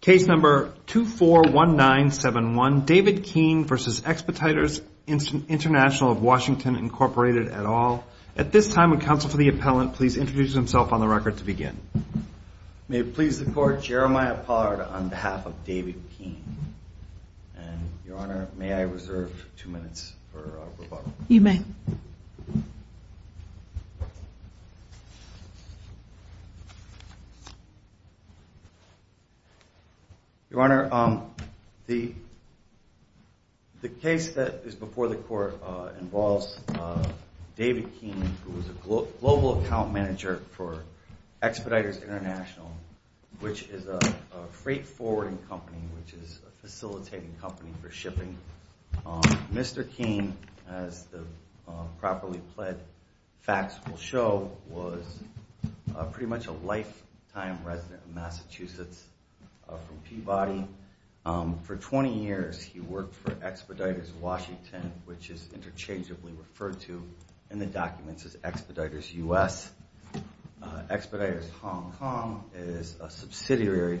Case number 241971, David Keane v. Expeditors International of Washington, Incorporated, et al. At this time, would counsel for the appellant please introduce himself on the record to begin. May it please the Court, Jeremiah Pollard on behalf of David Keane. Your Honor, may I reserve two minutes for rebuttal? You may. Your Honor, the case that is before the Court involves David Keane, who is a global account manager for Expeditors International, which is a freight forwarding company, which is a facilitating company for shipping. Mr. Keane, as the properly pled facts will show, was pretty much a lifetime resident of Massachusetts from Peabody. For 20 years he worked for Expeditors Washington, which is interchangeably referred to in the documents as Expeditors U.S. Expeditors Hong Kong is a subsidiary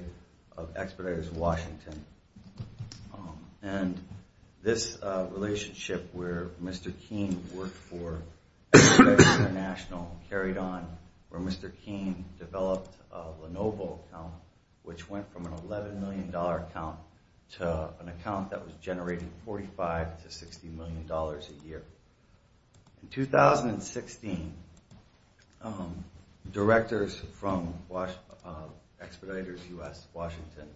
of Expeditors Washington. And this relationship where Mr. Keane worked for Expeditors International carried on where Mr. Keane developed a Lenovo account, which went from an $11 million account to an account that was generating $45 to $60 million a year. In 2016, directors from Expeditors U.S. Washington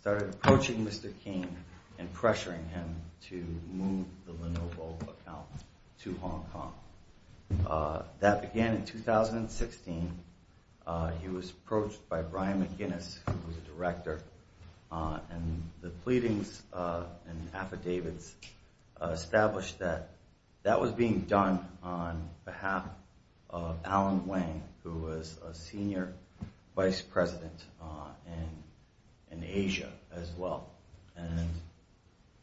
started approaching Mr. Keane and pressuring him to move the Lenovo account to Hong Kong. That began in 2016. He was approached by Brian McGinnis, who was a director. And the pleadings and affidavits established that that was being done on behalf of Alan Wang, who was a senior vice president in Asia as well. And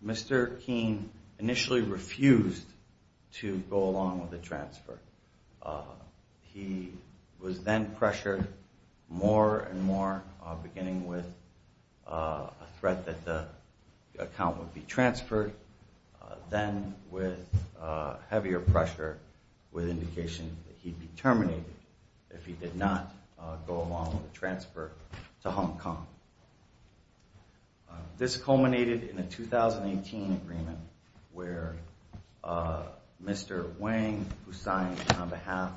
Mr. Keane initially refused to go along with the transfer. He was then pressured more and more, beginning with a threat that the account would be transferred, then with heavier pressure with indication that he'd be terminated if he did not go along with the transfer to Hong Kong. This culminated in a 2018 agreement where Mr. Wang, who signed on behalf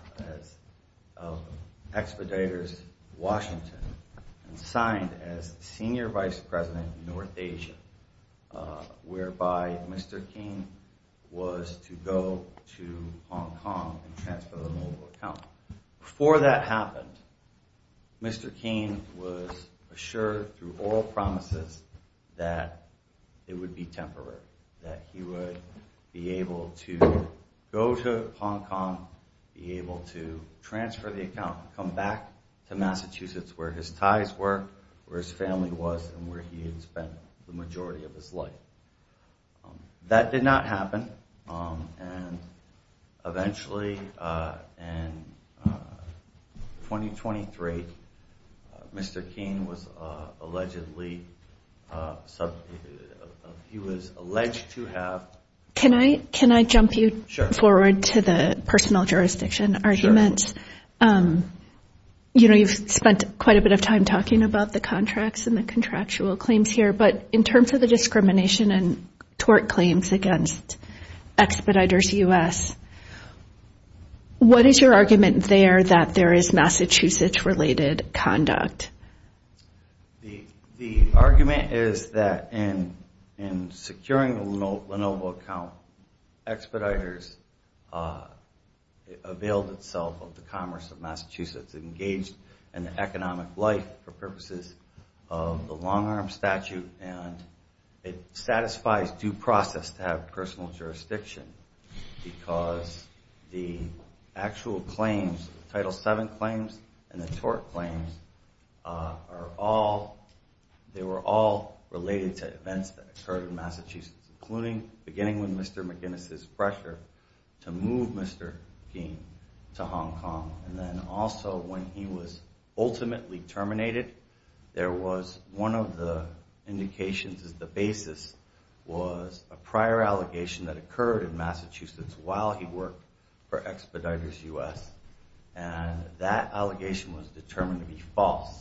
of Expeditors Washington, and signed as senior vice president in North Asia, whereby Mr. Keane was to go to Hong Kong and transfer the Lenovo account. Before that happened, Mr. Keane was assured through oral promises that it would be temporary, that he would be able to go to Hong Kong, be able to transfer the account, come back to Massachusetts where his ties were, where his family was, and where he had spent the majority of his life. That did not happen. And eventually, in 2023, Mr. Keane was allegedly, he was alleged to have... Can I jump you forward to the personnel jurisdiction arguments? You know, you've spent quite a bit of time talking about the contracts and the contractual claims here, but in terms of the discrimination and tort claims against Expeditors U.S., what is your argument there that there is Massachusetts-related conduct? The argument is that in securing the Lenovo account, Expeditors availed itself of the commerce of Massachusetts, it's engaged in the economic life for purposes of the long-arm statute, and it satisfies due process to have personal jurisdiction, because the actual claims, Title VII claims and the tort claims, they were all related to events that occurred in Massachusetts, including beginning with Mr. McInnes's pressure to move Mr. Keane to Hong Kong, and then also when he was ultimately terminated, there was one of the indications as the basis was a prior allegation that occurred in Massachusetts while he worked for Expeditors U.S., and that allegation was determined to be false,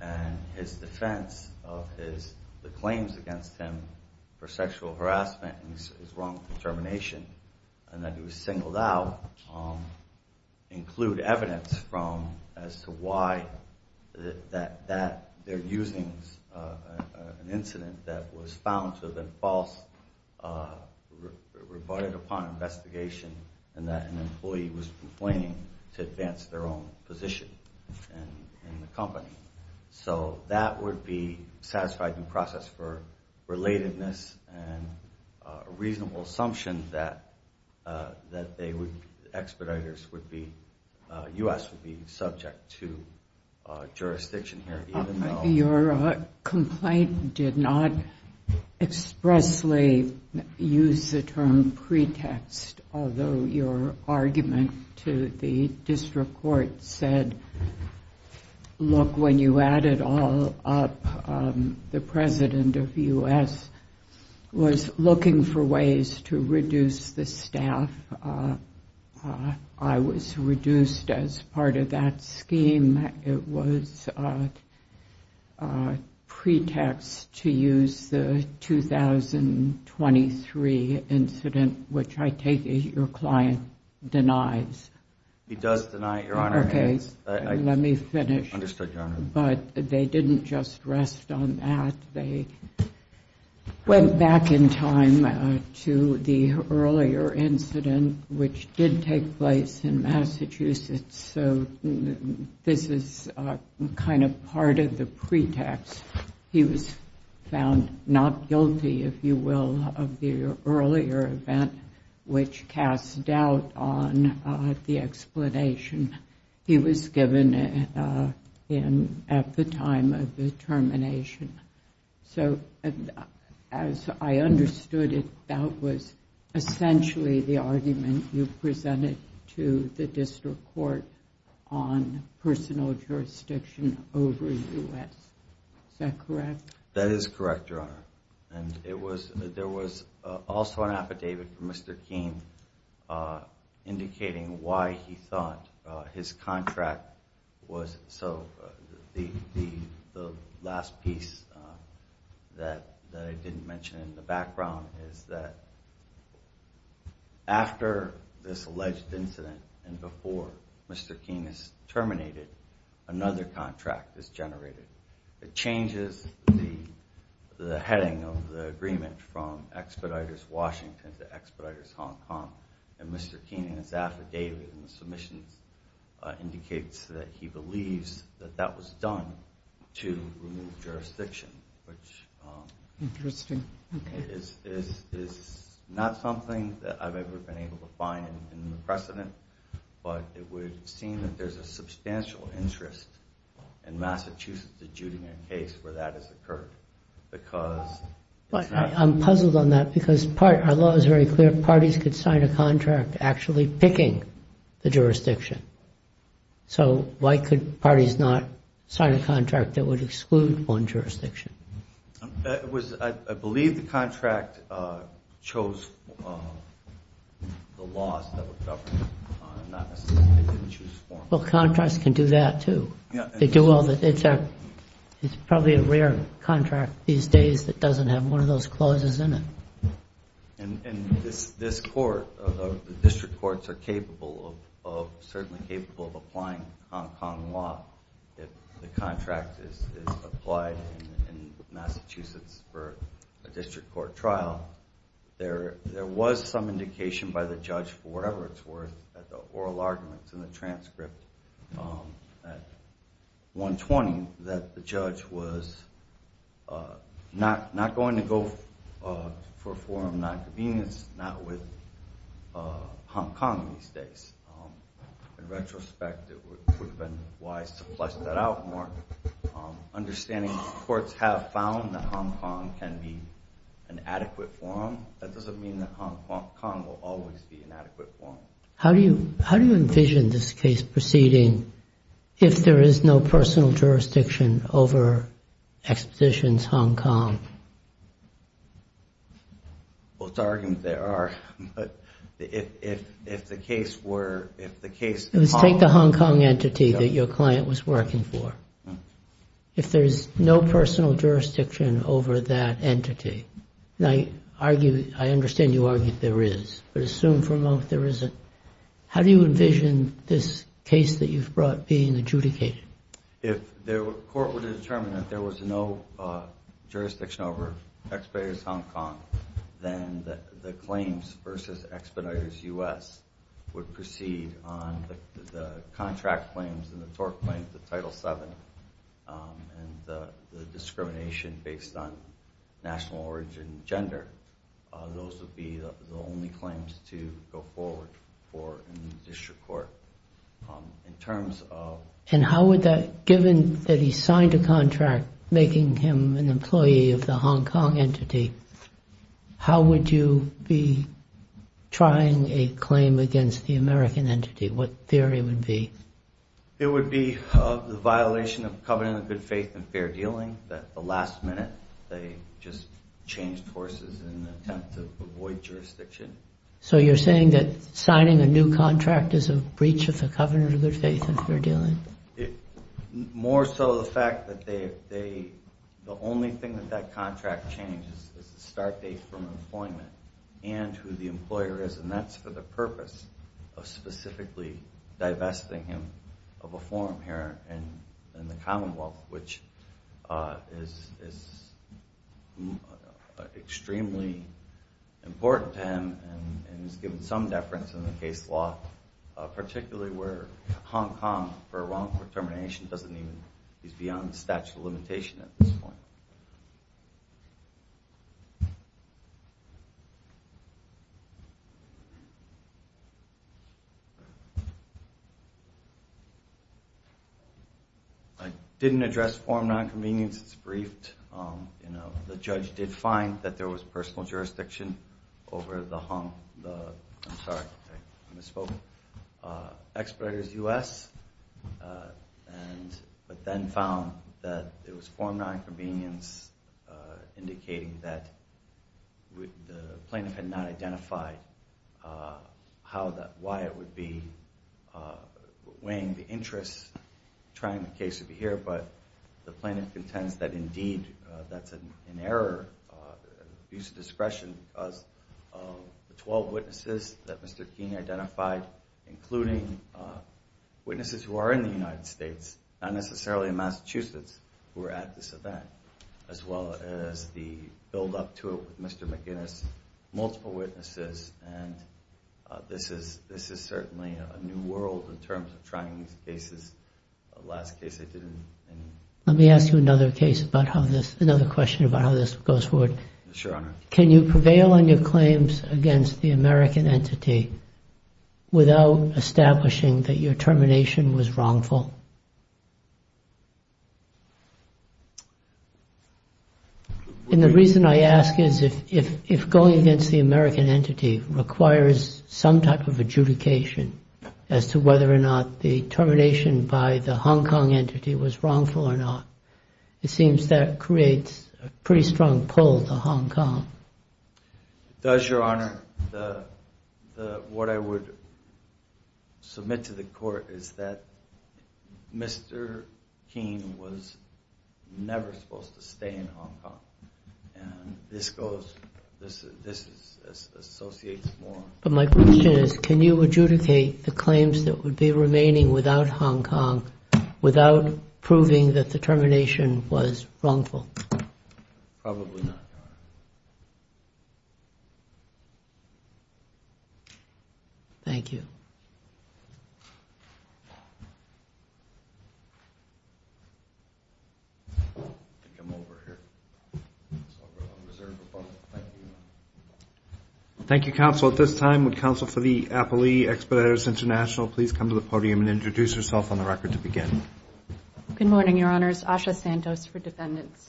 and his defense of the claims against him for sexual harassment and his wrongful termination, and that he was singled out, include evidence as to why they're using an incident that was found to have been false, rebutted upon investigation, and that an employee was complaining to advance their own position in the company. So that would be satisfied due process for relatedness and a reasonable assumption that Expeditors U.S. would be subject to jurisdiction here. Your complaint did not expressly use the term pretext, although your argument to the district court said, Look, when you add it all up, the president of U.S. was looking for ways to reduce the staff. I was reduced as part of that scheme. It was pretext to use the 2023 incident, which I take it your client denies. He does deny it, Your Honor. Okay, let me finish. Understood, Your Honor. But they didn't just rest on that. They went back in time to the earlier incident, which did take place in Massachusetts, so this is kind of part of the pretext. He was found not guilty, if you will, of the earlier event, which casts doubt on the explanation he was given at the time of the termination. So as I understood it, that was essentially the argument you presented to the district court on personal jurisdiction over U.S. Is that correct? That is correct, Your Honor. And there was also an affidavit from Mr. Keene indicating why he thought his contract was. So the last piece that I didn't mention in the background is that after this alleged incident and before Mr. Keene is terminated, another contract is generated. It changes the heading of the agreement from Expeditors Washington to Expeditors Hong Kong, and Mr. Keene in his affidavit in the submissions indicates that he believes that that was done to remove jurisdiction, which is not something that I've ever been able to find in the precedent, but it would seem that there's a substantial interest in Massachusetts adjudicating a case where that has occurred. I'm puzzled on that because our law is very clear. Parties could sign a contract actually picking the jurisdiction. So why could parties not sign a contract that would exclude one jurisdiction? I believe the contract chose the laws that were governed. It didn't choose the form. Well, contracts can do that, too. It's probably a rare contract these days that doesn't have one of those clauses in it. And this court, the district courts, are certainly capable of applying Hong Kong law if the contract is applied in Massachusetts for a district court trial. There was some indication by the judge, for whatever it's worth, at the oral arguments in the transcript at 1.20, that the judge was not going to go for a form of non-convenience, not with Hong Kong these days. In retrospect, it would have been wise to flesh that out more. Understanding that courts have found that Hong Kong can be an adequate form, that doesn't mean that Hong Kong will always be an adequate form. How do you envision this case proceeding if there is no personal jurisdiction over Expeditions Hong Kong? Well, it's argument there are, but if the case were, if the case... Let's take the Hong Kong entity that your client was working for. If there's no personal jurisdiction over that entity, and I understand you argue there is, but assume for a moment there isn't, how do you envision this case that you've brought being adjudicated? If the court were to determine that there was no jurisdiction over Expeditions Hong Kong, then the claims versus Expeditions U.S. would proceed on the contract claims and the tort claims, the Title VII, and the discrimination based on national origin and gender. Those would be the only claims to go forward for a district court. And how would that, given that he signed a contract making him an employee of the Hong Kong entity, how would you be trying a claim against the American entity? What theory would be? It would be the violation of covenant of good faith and fair dealing, that the last minute they just changed horses in an attempt to avoid jurisdiction. So you're saying that signing a new contract is a breach of the covenant of good faith and fair dealing? More so the fact that they, the only thing that that contract changes is the start date from employment and who the employer is, and that's for the purpose of specifically divesting him of a form here in the Commonwealth, which is extremely important to him and has given some deference in the case law, particularly where Hong Kong, for wrongful termination, is beyond the statute of limitation at this point. I didn't address form nonconvenience. It's briefed. The judge did find that there was personal jurisdiction over the Hong Kong, I'm sorry, I misspoke, exploiters U.S., but then found that it was form nonconvenience indicating that the plaintiff had not identified why it would be weighing the interests, trying the case to be here, but the plaintiff contends that indeed that's an error, abuse of discretion, because of the 12 witnesses that Mr. Keene identified, including witnesses who are in the United States, not necessarily in Massachusetts, who are at this event, as well as the buildup to it with Mr. McGinnis, multiple witnesses, and this is certainly a new world in terms of trying these cases. Let me ask you another question about how this goes forward. Can you prevail on your claims against the American entity without establishing that your termination was wrongful? And the reason I ask is if going against the American entity requires some type of adjudication as to whether or not the termination by the Hong Kong entity was wrongful or not, it seems that creates a pretty strong pull to Hong Kong. It does, Your Honor. What I would submit to the court is that Mr. Keene was never supposed to stay in Hong Kong, and this associates more. But my question is, can you adjudicate the claims that would be remaining without Hong Kong, without proving that the termination was wrongful? Probably not, Your Honor. Thank you. I think I'm over here. Thank you. Thank you, counsel. At this time, would counsel for the Appley Expeditors International please come to the podium and introduce herself on the record to begin? Good morning, Your Honors. Asha Santos for defendants.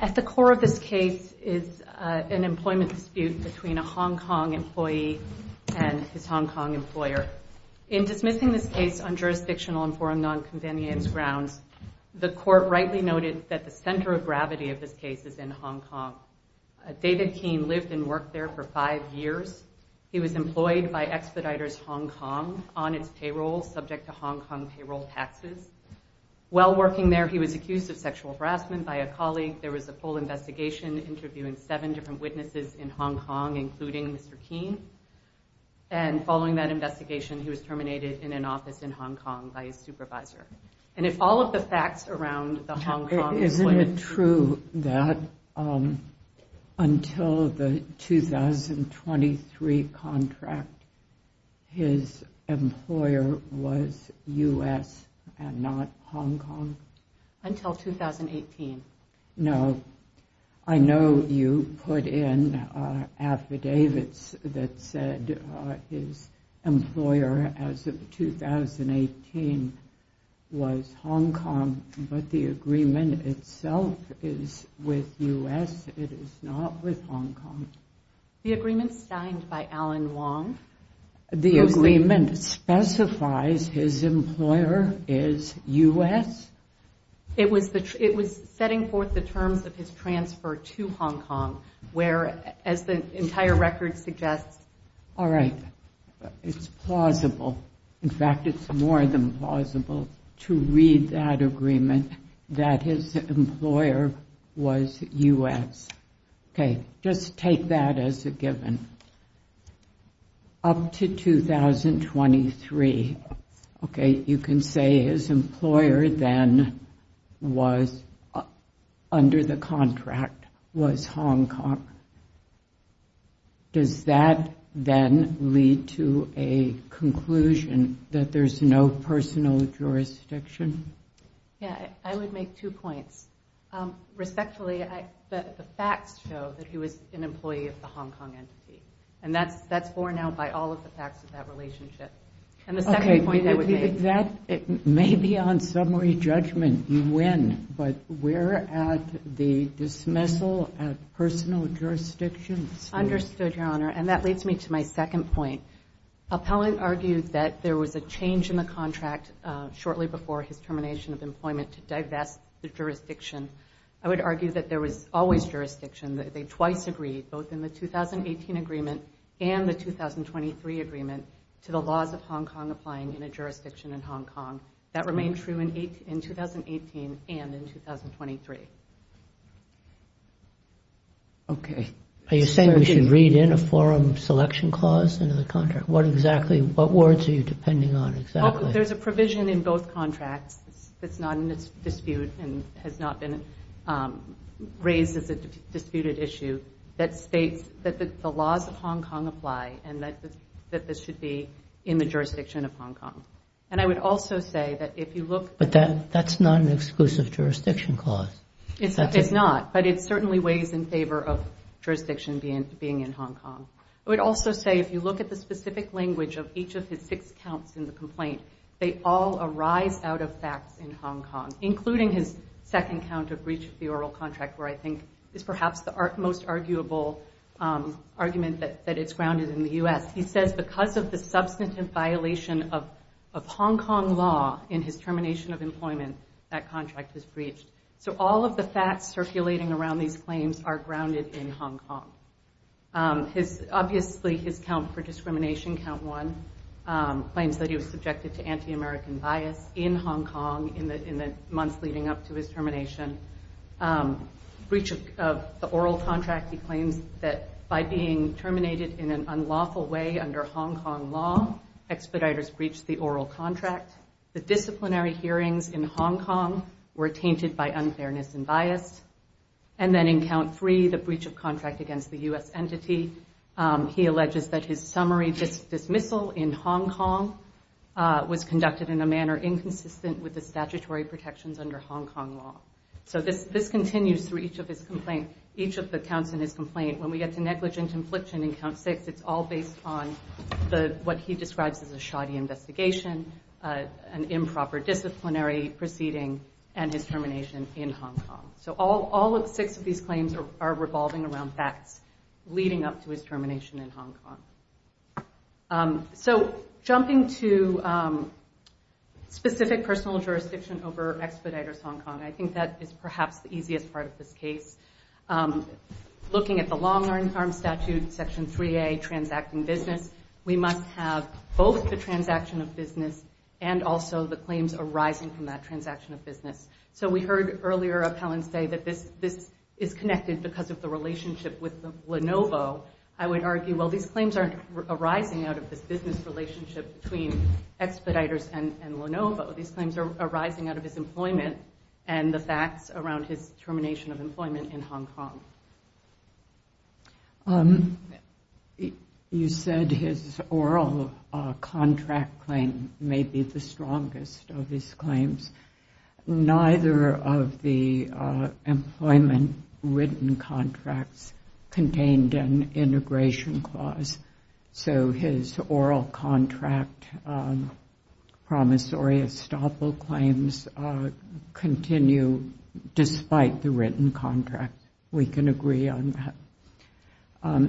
At the core of this case is an employment dispute between a Hong Kong employee and his Hong Kong employer. In dismissing this case on jurisdictional and foreign nonconvenience grounds, the court rightly noted that the center of gravity of this case is in Hong Kong. David Keene lived and worked there for five years. He was employed by Expeditors Hong Kong on its payroll, subject to Hong Kong payroll taxes. While working there, he was accused of sexual harassment by a colleague. There was a full investigation interviewing seven different witnesses in Hong Kong, including Mr. Keene. And following that investigation, he was terminated in an office in Hong Kong by his supervisor. And if all of the facts around the Hong Kong... Isn't it true that until the 2023 contract, his employer was U.S. and not Hong Kong? Until 2018. No. I know you put in affidavits that said his employer, as of 2018, was U.S. and not Hong Kong. The agreement was Hong Kong, but the agreement itself is with U.S., it is not with Hong Kong. The agreement's signed by Alan Wong. The agreement specifies his employer is U.S.? It was setting forth the terms of his transfer to Hong Kong, where, as the entire record suggests... All right. It's plausible. In fact, it's more than plausible to read that agreement, that his employer was U.S. Okay, just take that as a given. Up to 2023, okay, you can say his employer then was, under the contract, was Hong Kong. Does that then lead to a conclusion that there's no personal jurisdiction? Yeah, I would make two points. Respectfully, the facts show that he was an employee of the Hong Kong entity. And that's borne out by all of the facts of that relationship. And the second point I would make... Maybe on summary judgment, you win. But we're at the dismissal of personal jurisdiction. Understood, Your Honor. And that leads me to my second point. Appellant argued that there was a change in the contract shortly before his termination of employment to divest the jurisdiction. I would argue that there was always jurisdiction, that they twice agreed, both in the 2018 agreement and the 2023 agreement, to the laws of Hong Kong applying in a jurisdiction in Hong Kong. That remained true in 2018 and in 2023. Okay. Are you saying we should read in a forum selection clause into the contract? What exactly, what words are you depending on exactly? There's a provision in both contracts that's not in this dispute and has not been raised as a disputed issue that states that the laws of Hong Kong apply and that this should be in the jurisdiction of Hong Kong. And I would also say that if you look... But that's not an exclusive jurisdiction clause. It's not. But it certainly weighs in favor of jurisdiction being in Hong Kong. I would also say if you look at the specific language of each of his six counts in the complaint, they all arise out of facts in Hong Kong, including his second count of breach of the oral contract, where I think is perhaps the most arguable argument that it's grounded in the U.S. He says because of the substantive violation of Hong Kong law in his termination of employment, that contract was breached. So all of the facts circulating around these claims are grounded in Hong Kong. Obviously, his count for discrimination, count one, claims that he was subjected to anti-American bias in Hong Kong in the months leading up to his termination. Breach of the oral contract, he claims that by being terminated in an unlawful way under Hong Kong law, expeditors breached the oral contract. The disciplinary hearings in Hong Kong were tainted by unfairness and bias. And then in count three, the breach of contract against the U.S. entity, he alleges that his summary dismissal in Hong Kong was conducted in a manner inconsistent with the statutory protections under Hong Kong law. So this continues through each of his complaints, each of the counts in his complaint. When we get to negligent infliction in count six, it's all based on what he describes as a shoddy investigation, an improper disciplinary proceeding, and his termination in Hong Kong. So all six of these claims are revolving around facts leading up to his termination in Hong Kong. So jumping to specific personal jurisdiction over expeditors Hong Kong, I think that is perhaps the easiest part of this case. Looking at the long-arm statute, section 3A, transacting business, we must have both the transaction of business and also the claims arising from that transaction of business. So we heard earlier Appellant say that this is connected because of the relationship with Lenovo. I would argue, well, these claims aren't arising out of this business relationship between expeditors and Lenovo. These claims are arising out of his employment and the facts around his termination of employment in Hong Kong. You said his oral contract claim may be the strongest of his claims. Neither of the employment written contracts contained an integration clause. So his oral contract promissory estoppel claims continue despite the written contract. We can agree on that.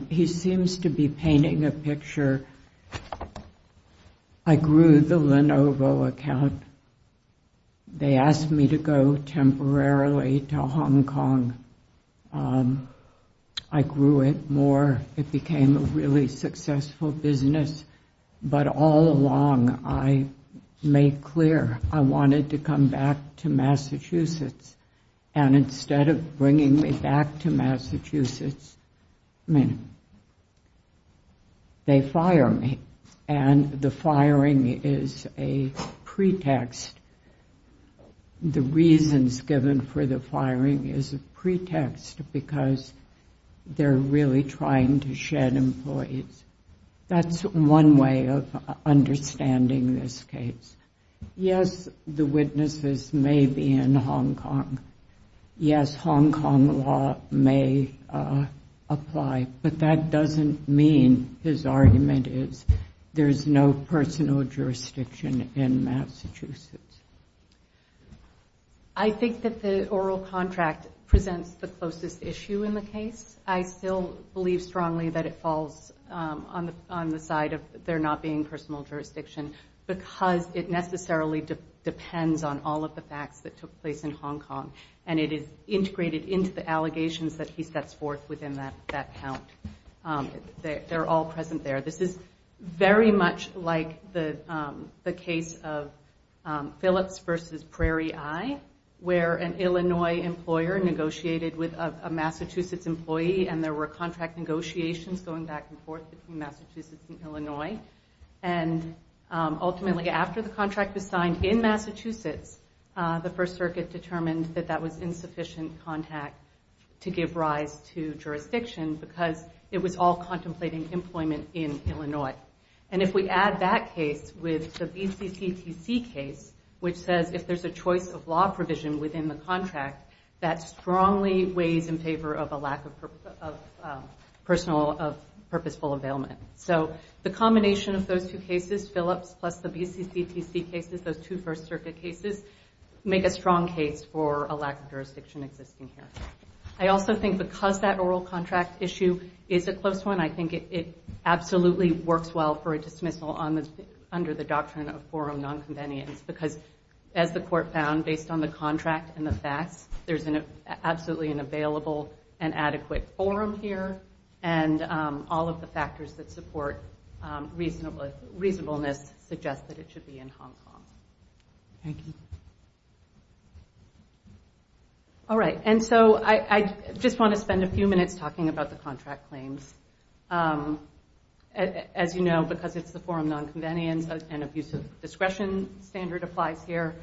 He seems to be painting a picture. I grew the Lenovo account. They asked me to go temporarily to Hong Kong. I grew it more. It became a really successful business. But all along, I made clear I wanted to come back to Massachusetts. And instead of bringing me back to Massachusetts, they fire me. And the firing is a pretext. The reasons given for the firing is a pretext because they're really trying to shed employees. That's one way of understanding this case. Yes, the witnesses may be in Hong Kong. Yes, Hong Kong law may apply. But that doesn't mean his argument is there's no personal jurisdiction in Massachusetts. I think that the oral contract presents the closest issue in the case. I still believe strongly that it falls on the side of there not being personal jurisdiction because it necessarily depends on all of the facts that took place in Hong Kong. And it is integrated into the allegations that he sets forth within that account. They're all present there. This is very much like the case of Phillips v. Prairie Eye where an Illinois employer negotiated with a Massachusetts employee and there were contract negotiations going back and forth between Massachusetts and Illinois. And ultimately, after the contract was signed in Massachusetts, the First Circuit determined that that was insufficient contact to give rise to jurisdiction because it was all contemplating employment in Illinois. And if we add that case with the BCCTC case, which says if there's a choice of law provision within the contract, that strongly weighs in favor of a lack of purposeful availment. So the combination of those two cases, Phillips plus the BCCTC cases, those two First Circuit cases, make a strong case for a lack of jurisdiction existing here. I also think because that oral contract issue is a close one, I think it absolutely works well for a dismissal under the doctrine of forum nonconvenience because as the Court found based on the contract and the facts, there's absolutely an available and adequate forum here. And all of the factors that support reasonableness suggest that it should be in Hong Kong. Thank you. All right, and so I just want to spend a few minutes talking about the contract claims. As you know, because it's the forum nonconvenience, an abuse of discretion standard applies here.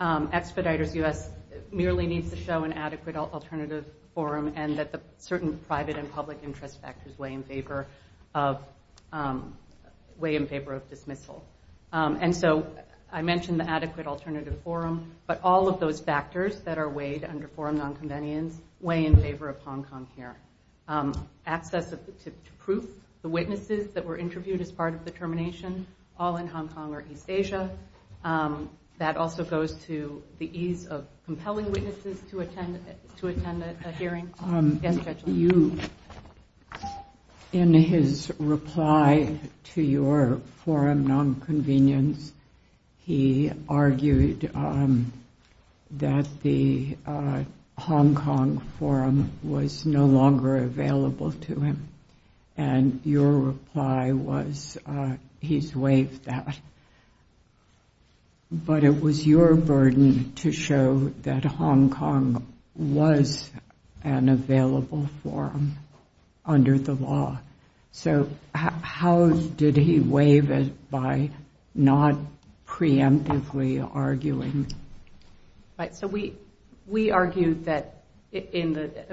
Expeditors U.S. merely needs to show an adequate alternative forum and that certain private and public interest factors weigh in favor of dismissal. And so I mentioned the adequate alternative forum, but all of those factors that are weighed under forum nonconvenience weigh in favor of Hong Kong here. Access to proof, the witnesses that were interviewed as part of the termination, all in Hong Kong or East Asia. That also goes to the ease of compelling witnesses to attend a hearing. Yes, Judge? In his reply to your forum nonconvenience, he argued that the Hong Kong forum was no longer available to him. And your reply was he's waived that. But it was your burden to show that Hong Kong was an available forum under the law. So how did he waive it by not preemptively arguing? So we argued that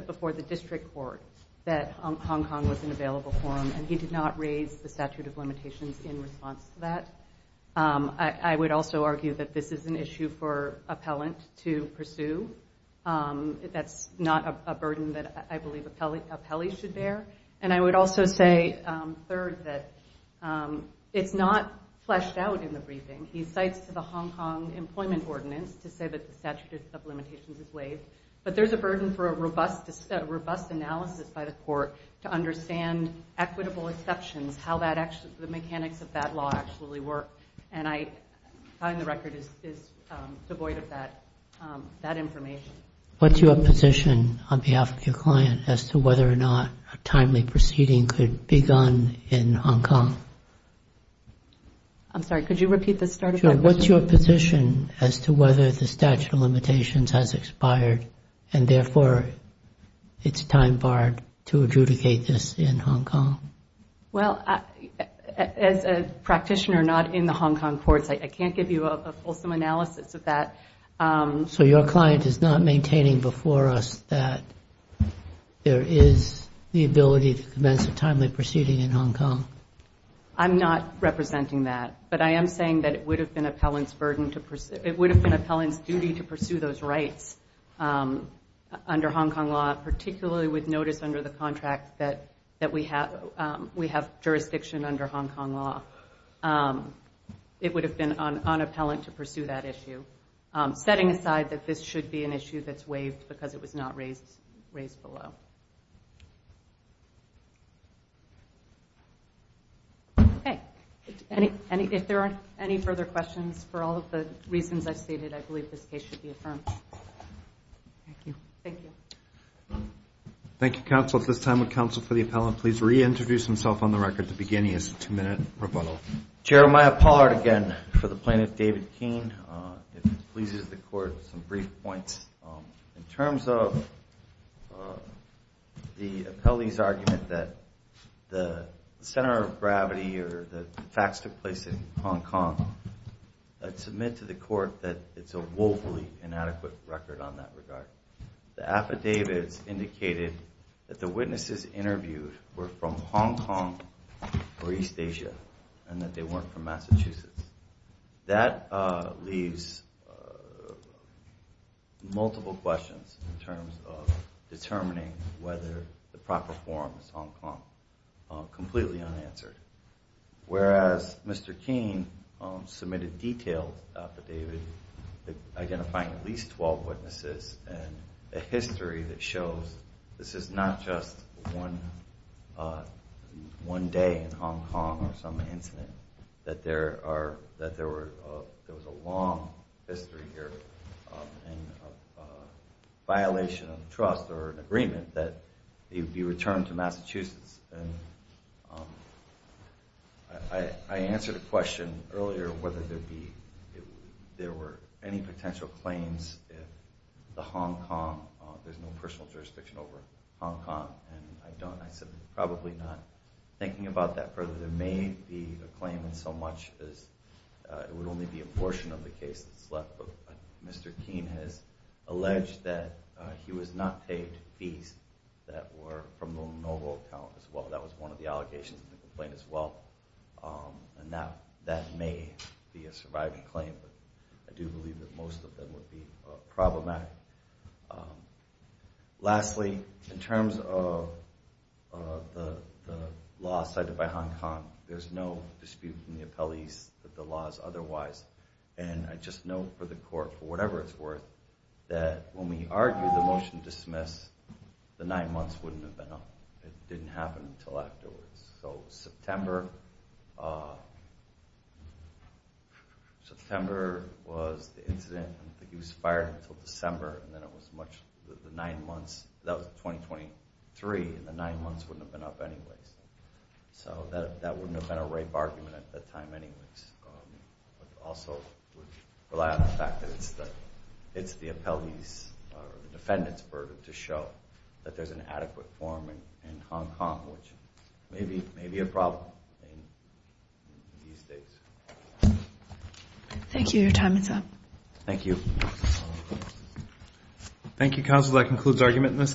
before the district court that Hong Kong was an available forum, and he did not raise the statute of limitations in response to that. I would also argue that this is an issue for appellant to pursue. That's not a burden that I believe appellees should bear. And I would also say, third, that it's not fleshed out in the briefing. He cites to the Hong Kong employment ordinance to say that the statute of limitations is waived. But there's a burden for a robust analysis by the court to understand equitable exceptions, how the mechanics of that law actually work. And I find the record is devoid of that information. What's your position on behalf of your client as to whether or not a timely proceeding could be done in Hong Kong? I'm sorry, could you repeat the start of my question? What's your position as to whether the statute of limitations has expired, and therefore it's time barred to adjudicate this in Hong Kong? Well, as a practitioner not in the Hong Kong courts, I can't give you a fulsome analysis of that. So your client is not maintaining before us that there is the ability to commence a timely proceeding in Hong Kong? I'm not representing that. But I am saying that it would have been an appellant's duty to pursue those rights under Hong Kong law, particularly with notice under the contract that we have jurisdiction under Hong Kong law. It would have been unappellant to pursue that issue, setting aside that this should be an issue that's waived because it was not raised below. Okay, if there aren't any further questions, for all of the reasons I've stated, I believe this case should be affirmed. Thank you. Thank you, counsel. At this time, would counsel for the appellant please reintroduce himself on the record? At the beginning, it's a two-minute rebuttal. Jeremiah Pollard again for the plaintiff, David Keene. If it pleases the court, some brief points. In terms of the appellee's argument that the center of gravity or the facts took place in Hong Kong, I'd submit to the court that it's a woefully inadequate record on that regard. The affidavits indicated that the witnesses interviewed were from Hong Kong or East Asia and that they weren't from Massachusetts. That leaves multiple questions in terms of determining whether the proper form is Hong Kong, completely unanswered. Whereas Mr. Keene submitted detailed affidavit identifying at least 12 witnesses and a history that shows this is not just one day in Hong Kong or some incident, that there was a long history here and a violation of trust or an agreement that he would be returned to Massachusetts. I answered a question earlier whether there were any potential claims in the Hong Kong, there's no personal jurisdiction over Hong Kong, and I said probably not. Thinking about that further, there may be a claim in so much as it would only be a portion of the case that's left, but Mr. Keene has alleged that he was not paid fees that were from the Lenovo account as well. That was one of the allegations in the complaint as well, and that may be a surviving claim, but I do believe that most of them would be problematic. Lastly, in terms of the law cited by Hong Kong, there's no dispute from the appellees that the law is otherwise, and I just know for the court, for whatever it's worth, that when we argued the motion to dismiss, the nine months wouldn't have been up. It didn't happen until afterwards. So September was the incident, he was fired until December, and then it was much, the nine months, that was 2023, and the nine months wouldn't have been up anyways. So that wouldn't have been a rape argument at that time anyways, but also would rely on the fact that it's the appellee's, or defendant's, to show that there's an adequate form in Hong Kong, which may be a problem in these days. Thank you. Your time is up. Thank you. Thank you, counsel. That concludes argument in this case.